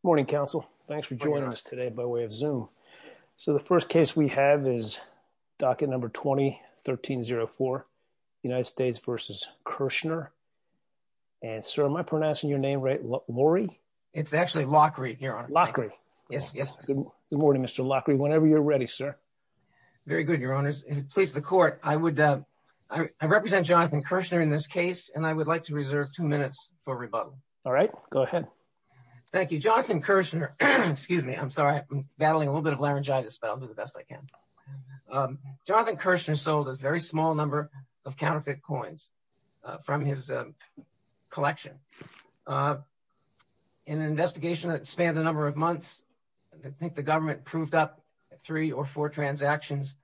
Good morning, counsel. Thanks for joining us today by way of zoom. So the first case we have is docket number 2304 United States v. Kirschner. And sir, am I pronouncing your name right, Laurie? It's actually Lockery, your honor. Lockery. Yes, yes. Good morning, Mr. Lockery, whenever you're ready, sir. Very good, your honors. Please, the court, I would, I represent Jonathan Kirschner in this case, and I would like to reserve two minutes for rebuttal. All right, go ahead. Thank you, Jonathan Kirschner. Excuse me, I'm sorry, battling a little bit of laryngitis, but I'll do the best I can. Jonathan Kirschner sold a very small number of counterfeit coins from his collection. In an investigation that spanned a number of months. I think the government proved up three or four transactions,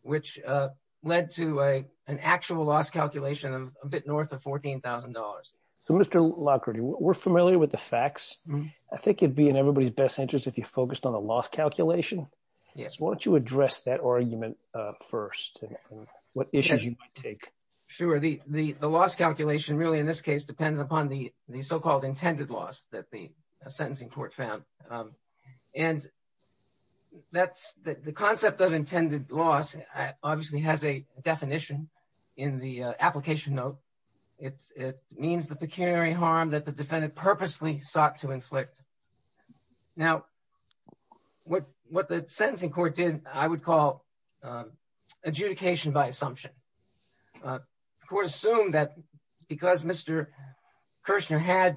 which led to a, an actual loss calculation of a bit north of $14,000. So Mr. Lockerty, we're familiar with the facts. I think it'd be in everybody's best interest if you focused on a loss calculation. Yes, why don't you address that argument. First, what issues you take. Sure, the, the, the loss calculation really in this case depends upon the, the so called intended loss that the sentencing court found. And that's the concept of intended loss, obviously has a definition in the application note. It means the pecuniary harm that the defendant purposely sought to inflict. Now, what, what the sentencing court did, I would call adjudication by assumption. The court assumed that because Mr. Kirschner had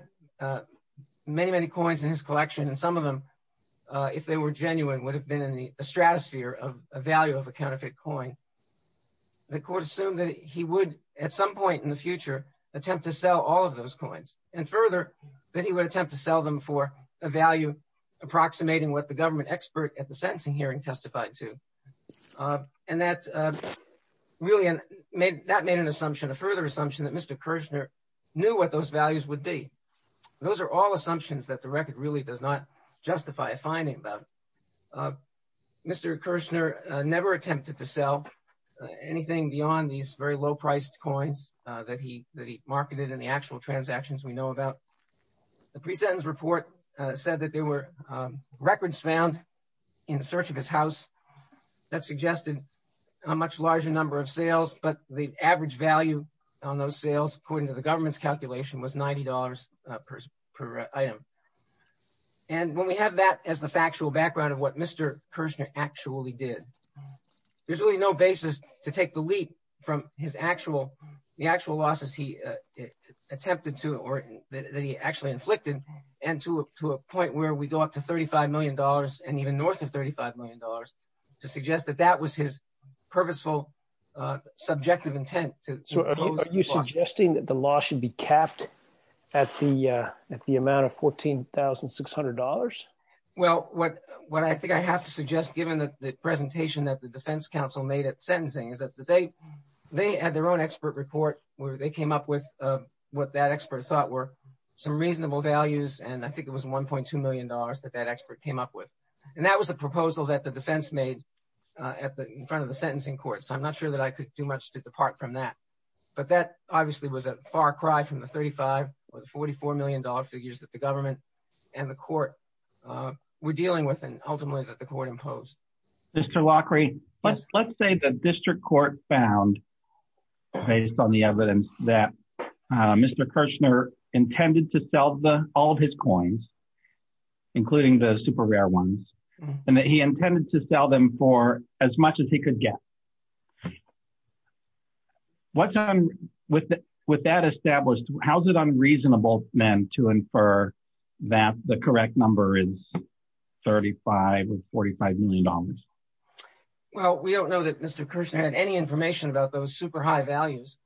many, many coins in his collection and some of them. If they were genuine would have been in the stratosphere of a value of a counterfeit coin. The court assumed that he would at some point in the future, attempt to sell all of those coins, and further that he would attempt to sell them for a value approximating what the government expert at the sentencing hearing testified to. And that's really an made that made an assumption a further assumption that Mr Kirschner knew what those values would be. Those are all assumptions that the record really does not justify a finding about. Mr Kirschner never attempted to sell anything beyond these very low priced coins that he that he marketed and the actual transactions we know about. The present report said that there were records found in search of his house. That suggested a much larger number of sales but the average value on those sales according to the government's calculation was $90 per item. And when we have that as the factual background of what Mr Kirschner actually did. There's really no basis to take the leap from his actual, the actual losses he attempted to or that he actually inflicted, and to a point where we go up to $35 million, and even north of $35 million to suggest that that was his purposeful subjective intent to. Are you suggesting that the law should be capped at the at the amount of $14,600. Well, what, what I think I have to suggest given that the presentation that the Defense Council made at sentencing is that they, they had their own expert report, where they came up with what that expert thought were some reasonable values and I think it was $1.2 million that that expert came up with. And that was the proposal that the defense made at the front of the sentencing court so I'm not sure that I could do much to depart from that. But that obviously was a far cry from the 35 or $44 million figures that the government and the court were dealing with and ultimately that the court imposed. Mr Lockery, let's let's say the district court found based on the evidence that Mr Kirschner intended to sell the all of his coins, including the super rare ones, and that he intended to sell them for as much as he could get. What's on with with that established, how's it unreasonable men to infer that the correct number is 35 or $45 million. Well, we don't know that Mr Kirschner had any information about those super high values.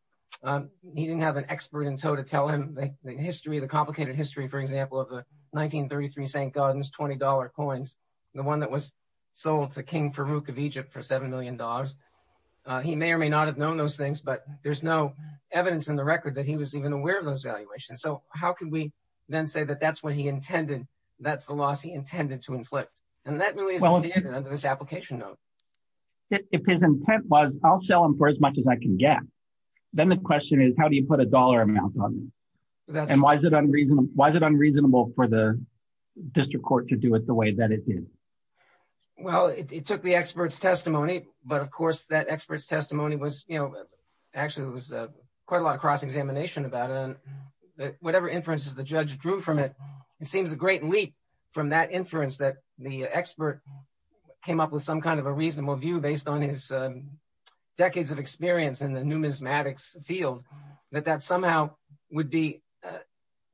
He didn't have an expert in tow to tell him the history of the complicated history for example of the 1933 St. Gaudens $20 coins, the one that was sold to King Farouk of Egypt for $7 million. He may or may not have known those things but there's no evidence in the record that he was even aware of those valuations. So, how can we then say that that's what he intended. That's the loss he intended to inflict. And that will be under this application. If his intent was, I'll sell them for as much as I can get. Then the question is how do you put $1 amount on. And why is it unreasonable, why is it unreasonable for the district court to do it the way that it is. Well, it took the experts testimony, but of course that experts testimony was, you know, actually it was quite a lot of cross examination about it and whatever inferences the judge drew from it. It seems a great leap from that inference that the expert came up with some kind of a reasonable view based on his decades of experience in the numismatics field that that somehow would be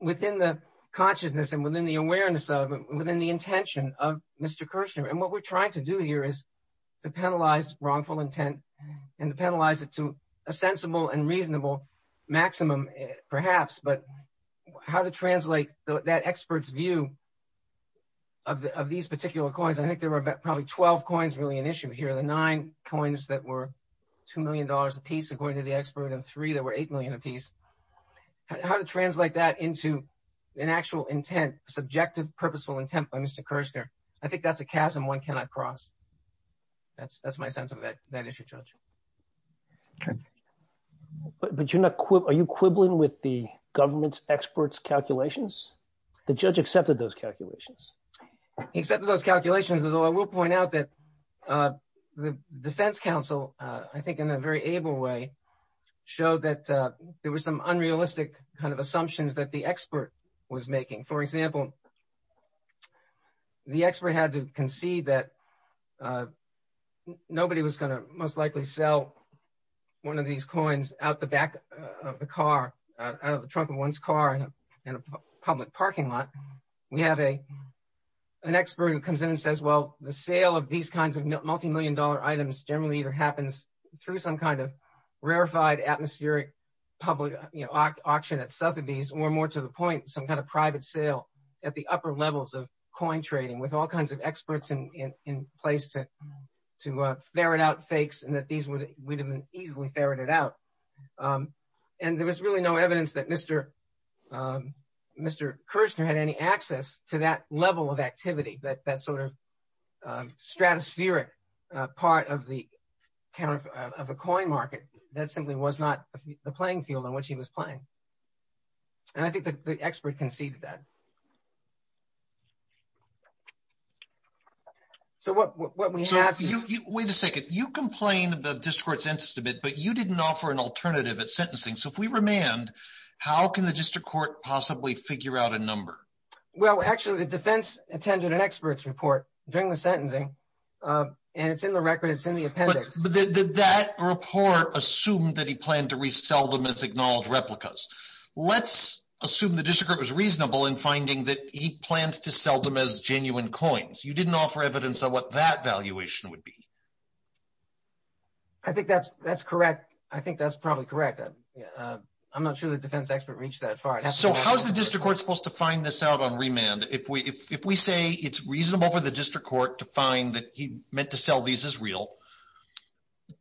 within the consciousness and within the awareness of within the intention of Mr Kirschner. And what we're trying to do here is to penalize wrongful intent and to penalize it to a sensible and reasonable maximum, perhaps, but how to translate that experts view of these particular coins. I think there were probably 12 coins really an issue here the nine coins that were $2 million apiece according to the expert and three that were 8 million apiece. How to translate that into an actual intent subjective purposeful intent by Mr Kirschner. I think that's a chasm one cannot cross. That's, that's my sense of it. That is your judge. But you're not quit are you quibbling with the government's experts calculations. The judge accepted those calculations. Except for those calculations as well I will point out that the Defense Council, I think in a very able way, showed that there was some unrealistic kind of assumptions that the expert was making for example, the expert had to concede that nobody was going to most likely sell one of these coins out the back of the car, out of the trunk of one's car in a public parking lot. We have a, an expert who comes in and says well the sale of these kinds of multimillion dollar items generally either happens through some kind of rarefied atmospheric public auction at Sotheby's or more to the point, some kind of private sale at the upper levels of coin trading with all kinds of experts in place to to ferret out fakes and that these would have been easily ferreted out. And there was really no evidence that Mr. Mr Kirchner had any access to that level of activity that that sort of stratospheric part of the kind of a coin market that simply was not the playing field in which he was playing. And I think that the expert conceded that. So what we have. Wait a second, you complain about discourse instabit but you didn't offer an alternative at sentencing so if we remand. How can the district court possibly figure out a number. Well actually the defense attended an expert's report during the sentencing. And it's in the record it's in the appendix that report assumed that he planned to resell them as acknowledged replicas. Let's assume the district was reasonable in finding that he plans to sell them as genuine coins you didn't offer evidence of what that valuation would be. I think that's, that's correct. I think that's probably correct. I'm not sure the defense expert reach that far so how's the district court supposed to find this out on remand if we if we say it's reasonable for the district court to find that he meant to sell these as real.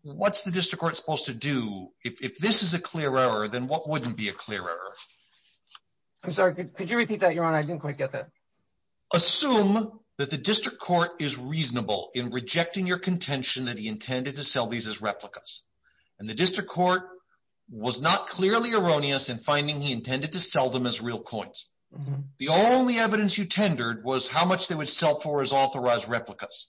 What's the district court supposed to do if this is a clear error than what wouldn't be a clearer. I'm sorry, could you repeat that you're on I didn't quite get that. Assume that the district court is reasonable in rejecting your contention that he intended to sell these as replicas, and the district court was not clearly erroneous and finding he intended to sell them as real coins. The only evidence you tendered was how much they would sell for is authorized replicas.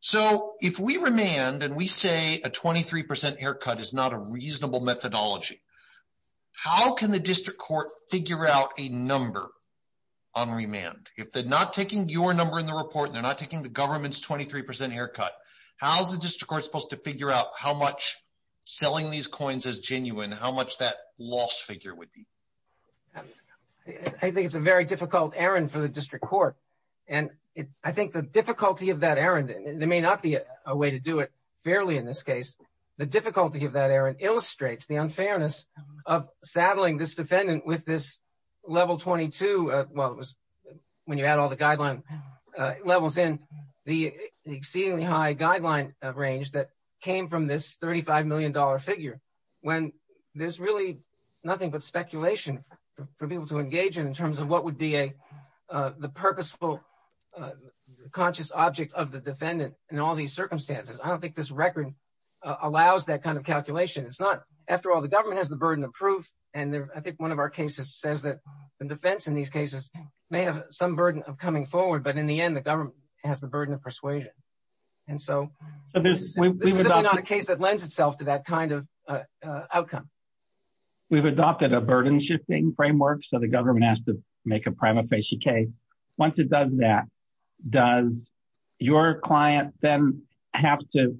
So, if we remand and we say a 23% haircut is not a reasonable methodology. How can the district court figure out a number on remand, if they're not taking your number in the report they're not taking the government's 23% haircut. How's the district court supposed to figure out how much selling these coins as genuine how much that lost figure would be. I think it's a very difficult Aaron for the district court. And I think the difficulty of that Aaron, there may not be a way to do it fairly in this case, the difficulty of that Aaron illustrates the unfairness of saddling this defendant with this level 22. Well, it was when you add all the guideline levels in the exceedingly high guideline range that came from this $35 million figure when there's really nothing but speculation for people to engage in terms of what would be a, the purposeful conscious object of the defendant, and all these circumstances I don't think this record allows that kind of calculation it's not. After all, the government has the burden of proof, and I think one of our cases says that the defense in these cases may have some burden of coming forward but in the end the government has the burden of persuasion. And so, this is not a case that lends itself to that kind of outcome. We've adopted a burden shifting framework so the government has to make a prima facie case. Once it does that, does your client, then have to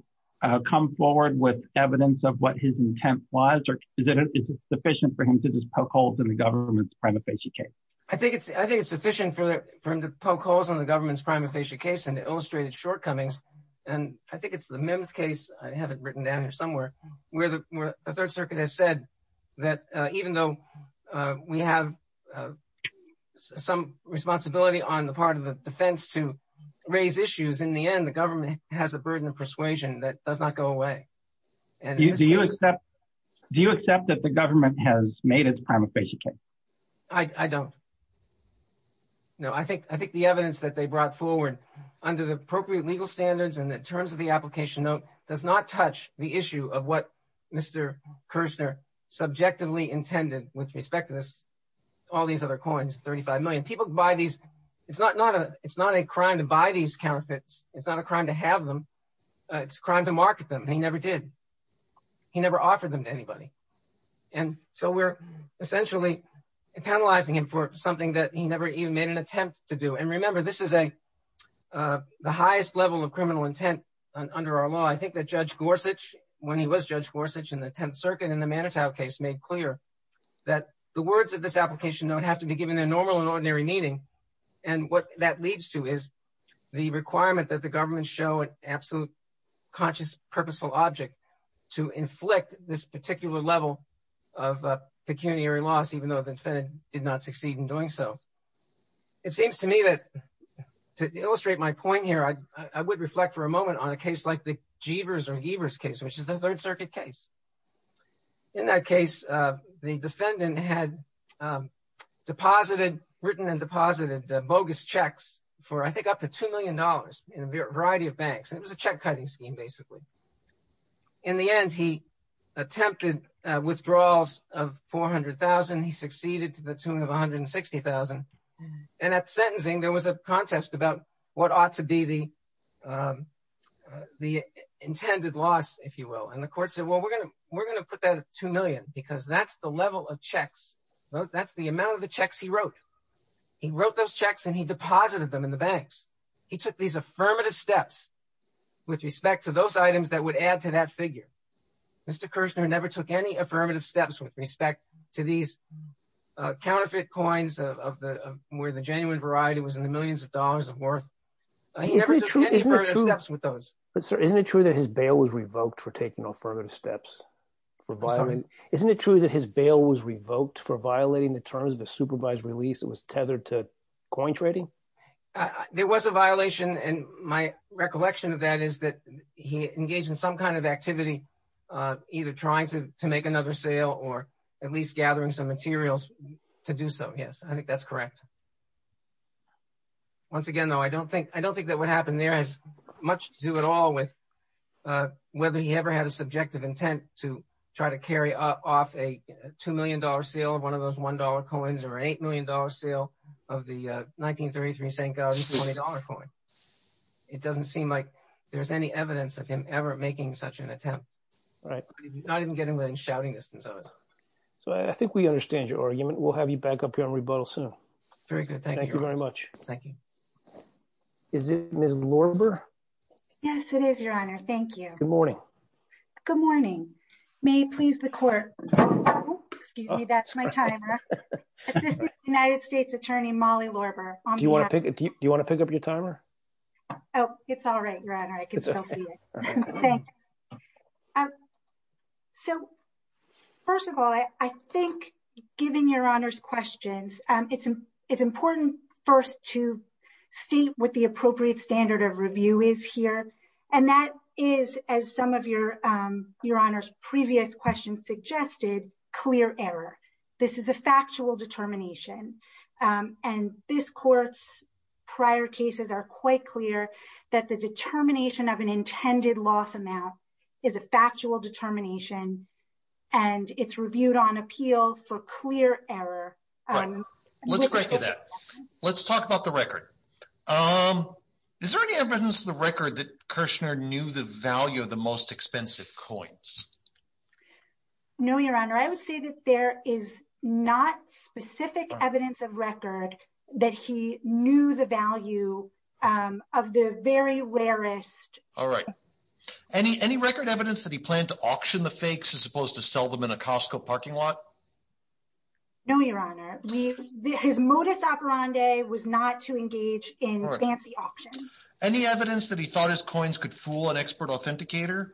come forward with evidence of what his intent was or is it sufficient for him to just poke holes in the government's prima facie case. I think it's, I think it's sufficient for him to poke holes in the government's prima facie case and illustrated shortcomings. And I think it's the Mims case, I have it written down here somewhere, where the Third Circuit has said that even though we have some responsibility on the part of the defense to raise issues in the end the government has a burden of persuasion that does not go away. Do you accept that the government has made its prima facie case? I don't know I think I think the evidence that they brought forward under the appropriate legal standards and in terms of the application note does not touch the issue of what Mr. Kirchner subjectively intended with respect to this. All these other coins 35 million people buy these. It's not not a, it's not a crime to buy these counterfeits, it's not a crime to have them. It's crime to market them he never did. He never offered them to anybody. And so we're essentially penalizing him for something that he never even made an attempt to do and remember this is a, the highest level of criminal intent under our law I think that Judge Gorsuch, when he was Judge Gorsuch in the 10th Circuit in the Manitow case made clear that the words of this application don't have to be given a normal and ordinary meaning. And what that leads to is the requirement that the government show an absolute conscious purposeful object to inflict this particular level of pecuniary loss even though the defendant did not succeed in doing so. It seems to me that, to illustrate my point here I would reflect for a moment on a case like the Jeevers or Jeevers case which is the Third Circuit case. In that case, the defendant had deposited written and deposited bogus checks for I think up to $2 million in a variety of banks and it was a check cutting scheme basically. In the end he attempted withdrawals of $400,000 he succeeded to the tune of $160,000 and at sentencing there was a contest about what ought to be the intended loss if you will and the court said well we're going to put that at $2 million because that's the level of checks. That's the amount of the checks he wrote. He wrote those checks and he deposited them in the banks. He took these affirmative steps with respect to those items that would add to that figure. Mr Kirshner never took any affirmative steps with respect to these counterfeit coins of the where the genuine variety was in the millions of dollars of worth. He never took any affirmative steps with those. Isn't it true that his bail was revoked for taking affirmative steps for violating. Isn't it true that his bail was revoked for violating the terms of a supervised release it was tethered to coin trading. There was a violation and my recollection of that is that he engaged in some kind of activity, either trying to make another sale or at least gathering some materials to do so yes I think that's correct. Once again though I don't think I don't think that would happen there is much to do at all with whether he ever had a subjective intent to try to carry off a $2 million sale of one of those $1 coins or $8 million sale of the 1933 St. It doesn't seem like there's any evidence of him ever making such an attempt. All right, I didn't get him in shouting distance. So I think we understand your argument we'll have you back up here on rebuttal soon. Very good. Thank you very much. Thank you. Is it Miss Lorimer. Yes, it is your honor. Thank you. Good morning. Good morning. May please the court. Excuse me, that's my time. United States Attorney Molly Lorimer. Do you want to pick it. Do you want to pick up your timer. Oh, it's all right. Thank you. So, first of all, I think, given your honors questions, it's, it's important first to see what the appropriate standard of review is here. And that is as some of your, your honors previous questions suggested clear error. This is a factual determination. And this court's prior cases are quite clear that the determination of an intended loss amount is a factual determination. And it's reviewed on appeal for clear error. Let's go to that. Let's talk about the record. Is there any evidence of the record that Kirshner knew the value of the most expensive coins. No, your honor, I would say that there is not specific evidence of record that he knew the value of the very rarest. All right. Any, any record evidence that he planned to auction the fakes as opposed to sell them in a Costco parking lot. No, your honor, we, his modus operandi was not to engage in fancy auctions. Any evidence that he thought his coins could fool an expert authenticator.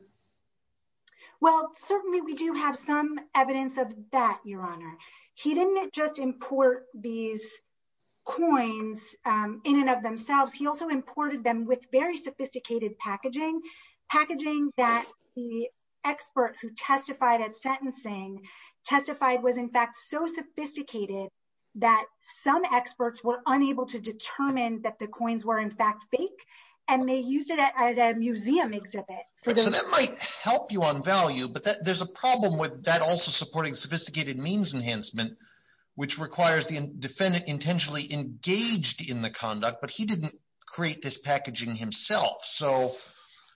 Well, certainly we do have some evidence of that, your honor. He didn't just import these coins in and of themselves. He also imported them with very sophisticated packaging packaging that the expert who testified at sentencing testified was in fact so sophisticated. That some experts were unable to determine that the coins were in fact fake and they use it at a museum exhibit. So that might help you on value, but there's a problem with that also supporting sophisticated means enhancement, which requires the defendant intentionally engaged in the conduct, but he didn't create this packaging himself. So,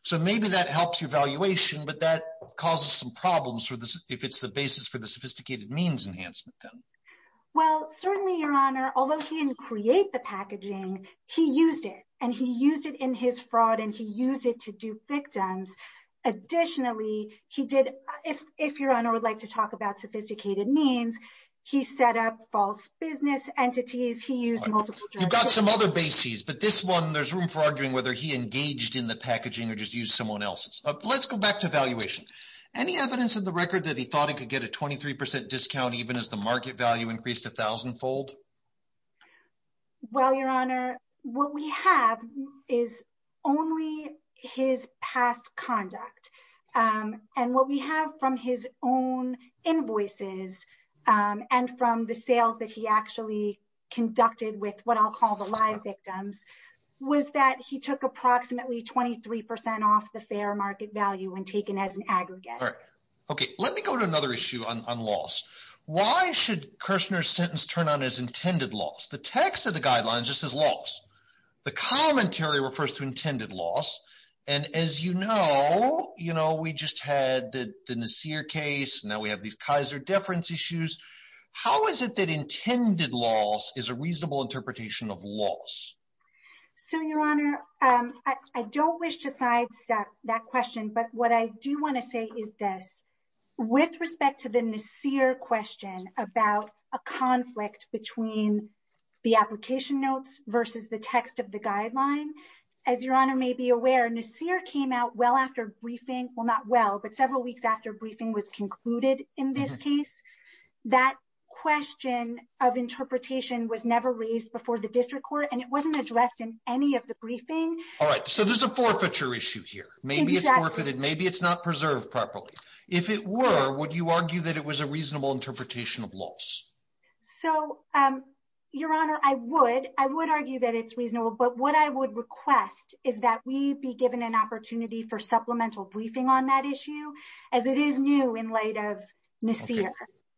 so maybe that helps your valuation, but that causes some problems for this. If it's the basis for the sophisticated means enhancement. Well, certainly your honor, although he didn't create the packaging, he used it and he used it in his fraud and he used it to do victims. Additionally, he did. If, if your honor would like to talk about sophisticated means, he set up false business entities. You've got some other bases, but this one there's room for arguing whether he engaged in the packaging or just use someone else's. Let's go back to valuation. Any evidence of the record that he thought he could get a 23% discount, even as the market value increased a thousand fold. Well, your honor, what we have is only his past conduct and what we have from his own invoices and from the sales that he actually conducted with what I'll call the live victims was that he took approximately 23% off the fair market value when taken as an aggregate. Okay. Let me go to another issue on loss. Why should Kirshner's sentence turn on as intended loss? The text of the guidelines just says loss. The commentary refers to intended loss. And as you know, you know, we just had the Nassir case. Now we have these Kaiser deference issues. How is it that intended loss is a reasonable interpretation of loss? So, your honor, I don't wish to sidestep that question, but what I do want to say is this with respect to the Nassir question about a conflict between the application notes versus the text of the guideline. As your honor may be aware, Nassir came out well after briefing. Well, not well, but several weeks after briefing was concluded in this case, that question of interpretation was never raised before the district court and it wasn't addressed in any of the briefing. All right. So there's a forfeiture issue here. Maybe it's forfeited. Maybe it's not preserved properly. If it were, would you argue that it was a reasonable interpretation of loss? So, your honor, I would. I would argue that it's reasonable. But what I would request is that we be given an opportunity for supplemental briefing on that issue as it is new in light of Nassir.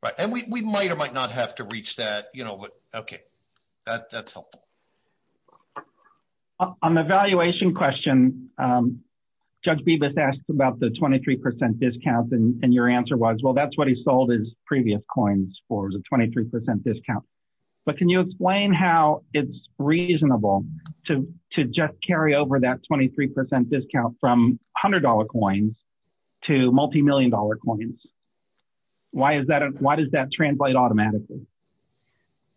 Right. And we might or might not have to reach that. You know what? OK, that's helpful. On the valuation question, Judge Bibas asked about the 23 percent discount. And your answer was, well, that's what he sold his previous coins for was a 23 percent discount. But can you explain how it's reasonable to to just carry over that 23 percent discount from $100 coins to multimillion dollar coins? Why is that? Why does that translate automatically?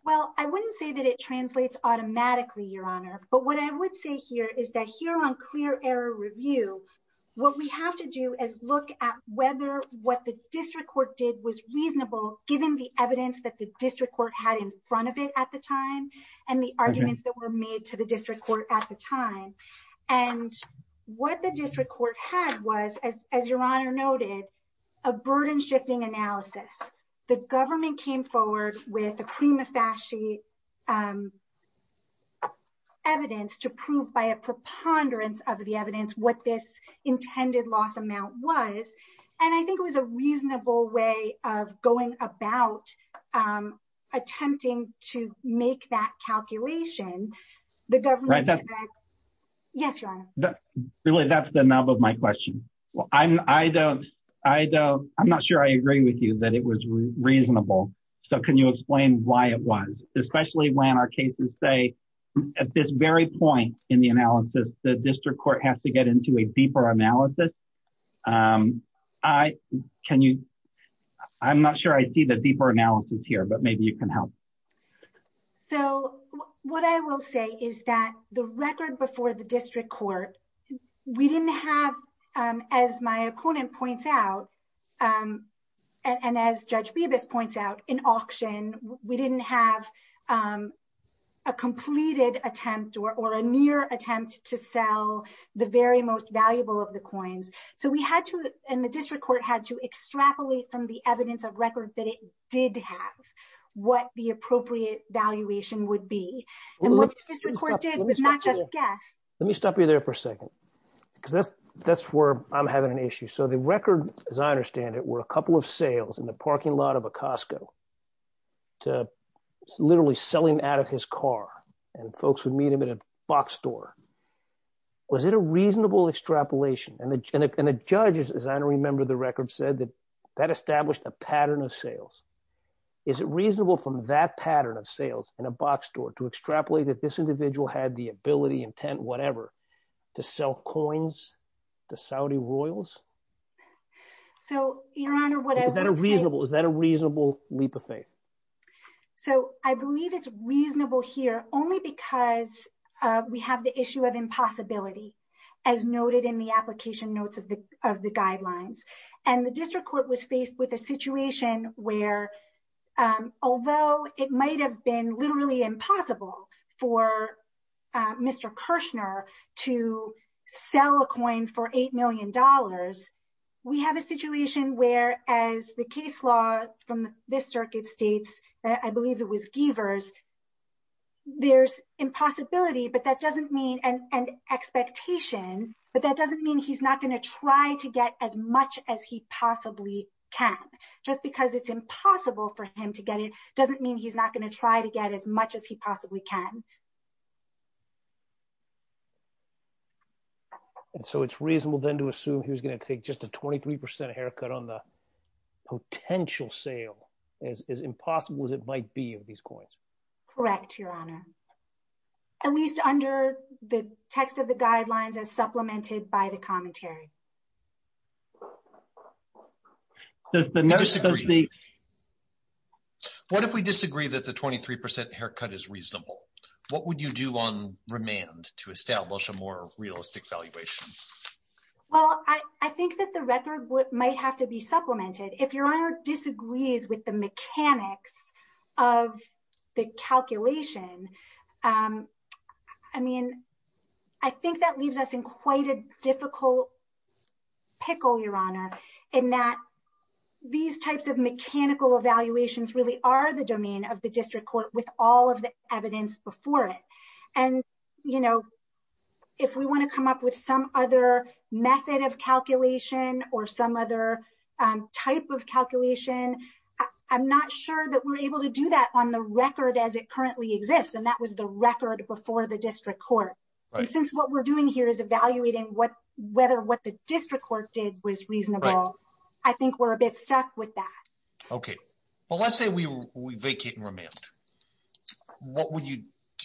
Well, I wouldn't say that it translates automatically, your honor. But what I would say here is that here on clear error review, what we have to do is look at whether what the district court did was reasonable, given the evidence that the district court had in front of it at the time and the arguments that were made to the district court at the time. And what the district court had was, as your honor noted, a burden shifting analysis. The government came forward with a cream of fashy evidence to prove by a preponderance of the evidence what this intended loss amount was. And I think it was a reasonable way of going about attempting to make that calculation. The government. Yes. Really, that's the nub of my question. Well, I'm I don't I don't I'm not sure I agree with you that it was reasonable. So can you explain why it was, especially when our cases say at this very point in the analysis, the district court has to get into a deeper analysis. I can you. I'm not sure I see the deeper analysis here, but maybe you can help. So what I will say is that the record before the district court, we didn't have, as my opponent points out and as Judge Bibas points out in auction, we didn't have a completed attempt or a near attempt to sell the very most valuable of the coins. So we had to and the district court had to extrapolate from the evidence of record that it did have what the appropriate valuation would be. And what the district court did was not just guess. Let me stop you there for a second, because that's that's where I'm having an issue. So the record, as I understand it, were a couple of sales in the parking lot of a Costco. To literally selling out of his car and folks would meet him in a box store. Was it a reasonable extrapolation? And the judges, as I remember, the record said that that established a pattern of sales. Is it reasonable from that pattern of sales in a box store to extrapolate that this individual had the ability, intent, whatever, to sell coins to Saudi royals? So, Your Honor, what is that a reasonable is that a reasonable leap of faith? So I believe it's reasonable here only because we have the issue of impossibility, as noted in the application notes of the of the guidelines. And the district court was faced with a situation where, although it might have been literally impossible for Mr. Kirshner to sell a coin for eight million dollars. We have a situation where, as the case law from this circuit states, I believe it was givers. There's impossibility, but that doesn't mean an expectation, but that doesn't mean he's not going to try to get as much as he possibly can. Just because it's impossible for him to get it doesn't mean he's not going to try to get as much as he possibly can. And so it's reasonable, then, to assume he was going to take just a 23 percent haircut on the potential sale as impossible as it might be of these coins. Correct, Your Honor. At least under the text of the guidelines as supplemented by the commentary. What if we disagree that the 23 percent haircut is reasonable? What would you do on remand to establish a more realistic valuation? Well, I think that the record might have to be supplemented. If Your Honor disagrees with the mechanics of the calculation, I mean, I think that leaves us in quite a difficult pickle, Your Honor, in that these types of mechanical evaluations really are the domain of the district court with all of the evidence before it. And, you know, if we want to come up with some other method of calculation or some other type of calculation, I'm not sure that we're able to do that on the record as it currently exists, and that was the record before the district court. Since what we're doing here is evaluating whether what the district court did was reasonable, I think we're a bit stuck with that. Okay. Well, let's say we vacate and remand. Do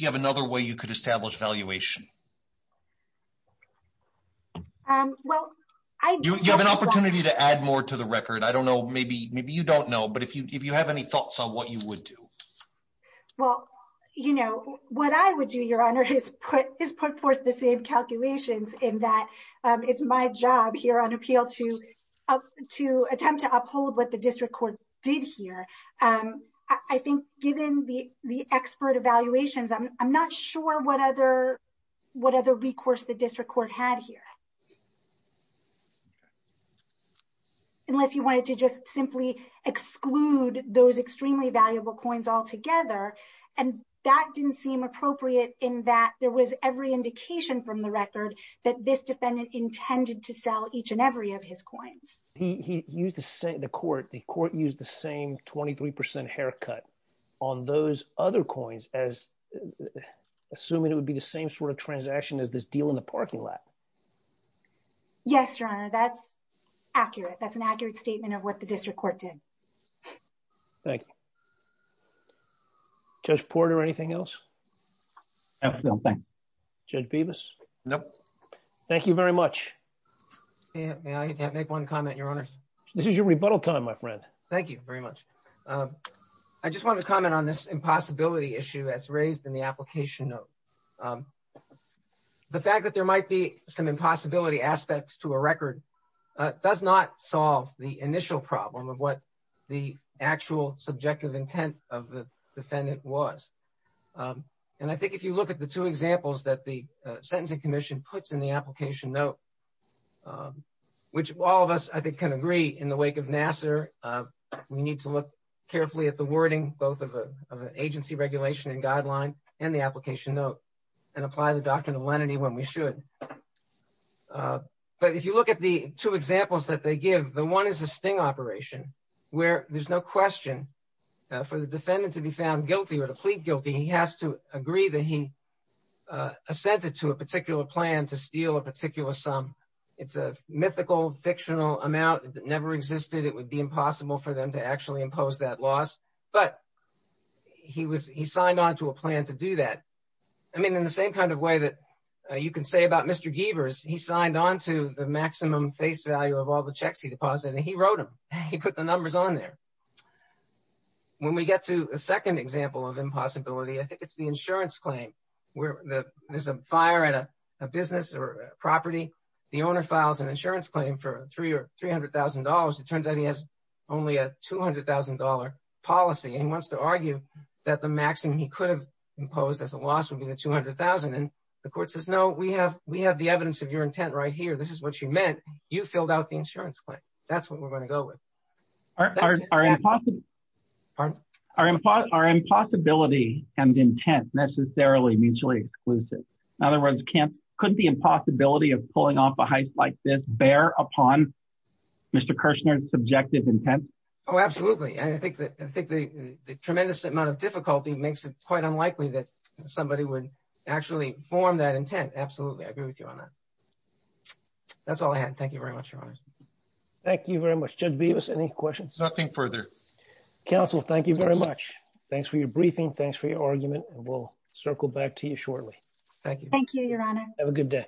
you have another way you could establish valuation? You have an opportunity to add more to the record. I don't know, maybe you don't know, but if you have any thoughts on what you would do. Well, you know, what I would do, Your Honor, is put forth the same calculations in that it's my job here on appeal to attempt to uphold what the district court did here. I think given the expert evaluations, I'm not sure what other recourse the district court had here. Unless you wanted to just simply exclude those extremely valuable coins altogether. And that didn't seem appropriate in that there was every indication from the record that this defendant intended to sell each and every of his coins. He used the court, the court used the same 23% haircut on those other coins as assuming it would be the same sort of transaction as this deal in the parking lot. Yes, Your Honor, that's accurate. That's an accurate statement of what the district court did. Thank you. Judge Porter, anything else? No, thank you. Judge Bevis? No. Thank you very much. May I make one comment, Your Honor? This is your rebuttal time, my friend. Thank you very much. I just want to comment on this impossibility issue as raised in the application note. The fact that there might be some impossibility aspects to a record does not solve the initial problem of what the actual subjective intent of the defendant was. And I think if you look at the two examples that the Sentencing Commission puts in the application note, which all of us, I think, can agree in the wake of Nassar, we need to look carefully at the wording, both of the agency regulation and guideline and the application note, and apply the doctrine of lenity when we should. But if you look at the two examples that they give, the one is a sting operation where there's no question for the defendant to be found guilty or to plead guilty. He has to agree that he assented to a particular plan to steal a particular sum. It's a mythical, fictional amount that never existed. It would be impossible for them to actually impose that loss. But he signed on to a plan to do that. I mean, in the same kind of way that you can say about Mr. Gievers, he signed on to the maximum face value of all the checks he deposited, and he wrote them. He put the numbers on there. When we get to a second example of impossibility, I think it's the insurance claim where there's a fire at a business or property. The owner files an insurance claim for $300,000. It turns out he has only a $200,000 policy. And he wants to argue that the maximum he could have imposed as a loss would be the $200,000. And the court says, no, we have the evidence of your intent right here. This is what you meant. You filled out the insurance claim. That's what we're going to go with. Our impossibility and intent necessarily mutually exclusive. In other words, couldn't the impossibility of pulling off a heist like this bear upon Mr. Kirshner's subjective intent? Oh, absolutely. I think the tremendous amount of difficulty makes it quite unlikely that somebody would actually form that intent. Absolutely. I agree with you on that. That's all I had. Thank you very much, Your Honor. Thank you very much. Judge Bevis, any questions? Nothing further. Counsel, thank you very much. Thanks for your briefing. Thanks for your argument. And we'll circle back to you shortly. Thank you. Thank you, Your Honor. Have a good day.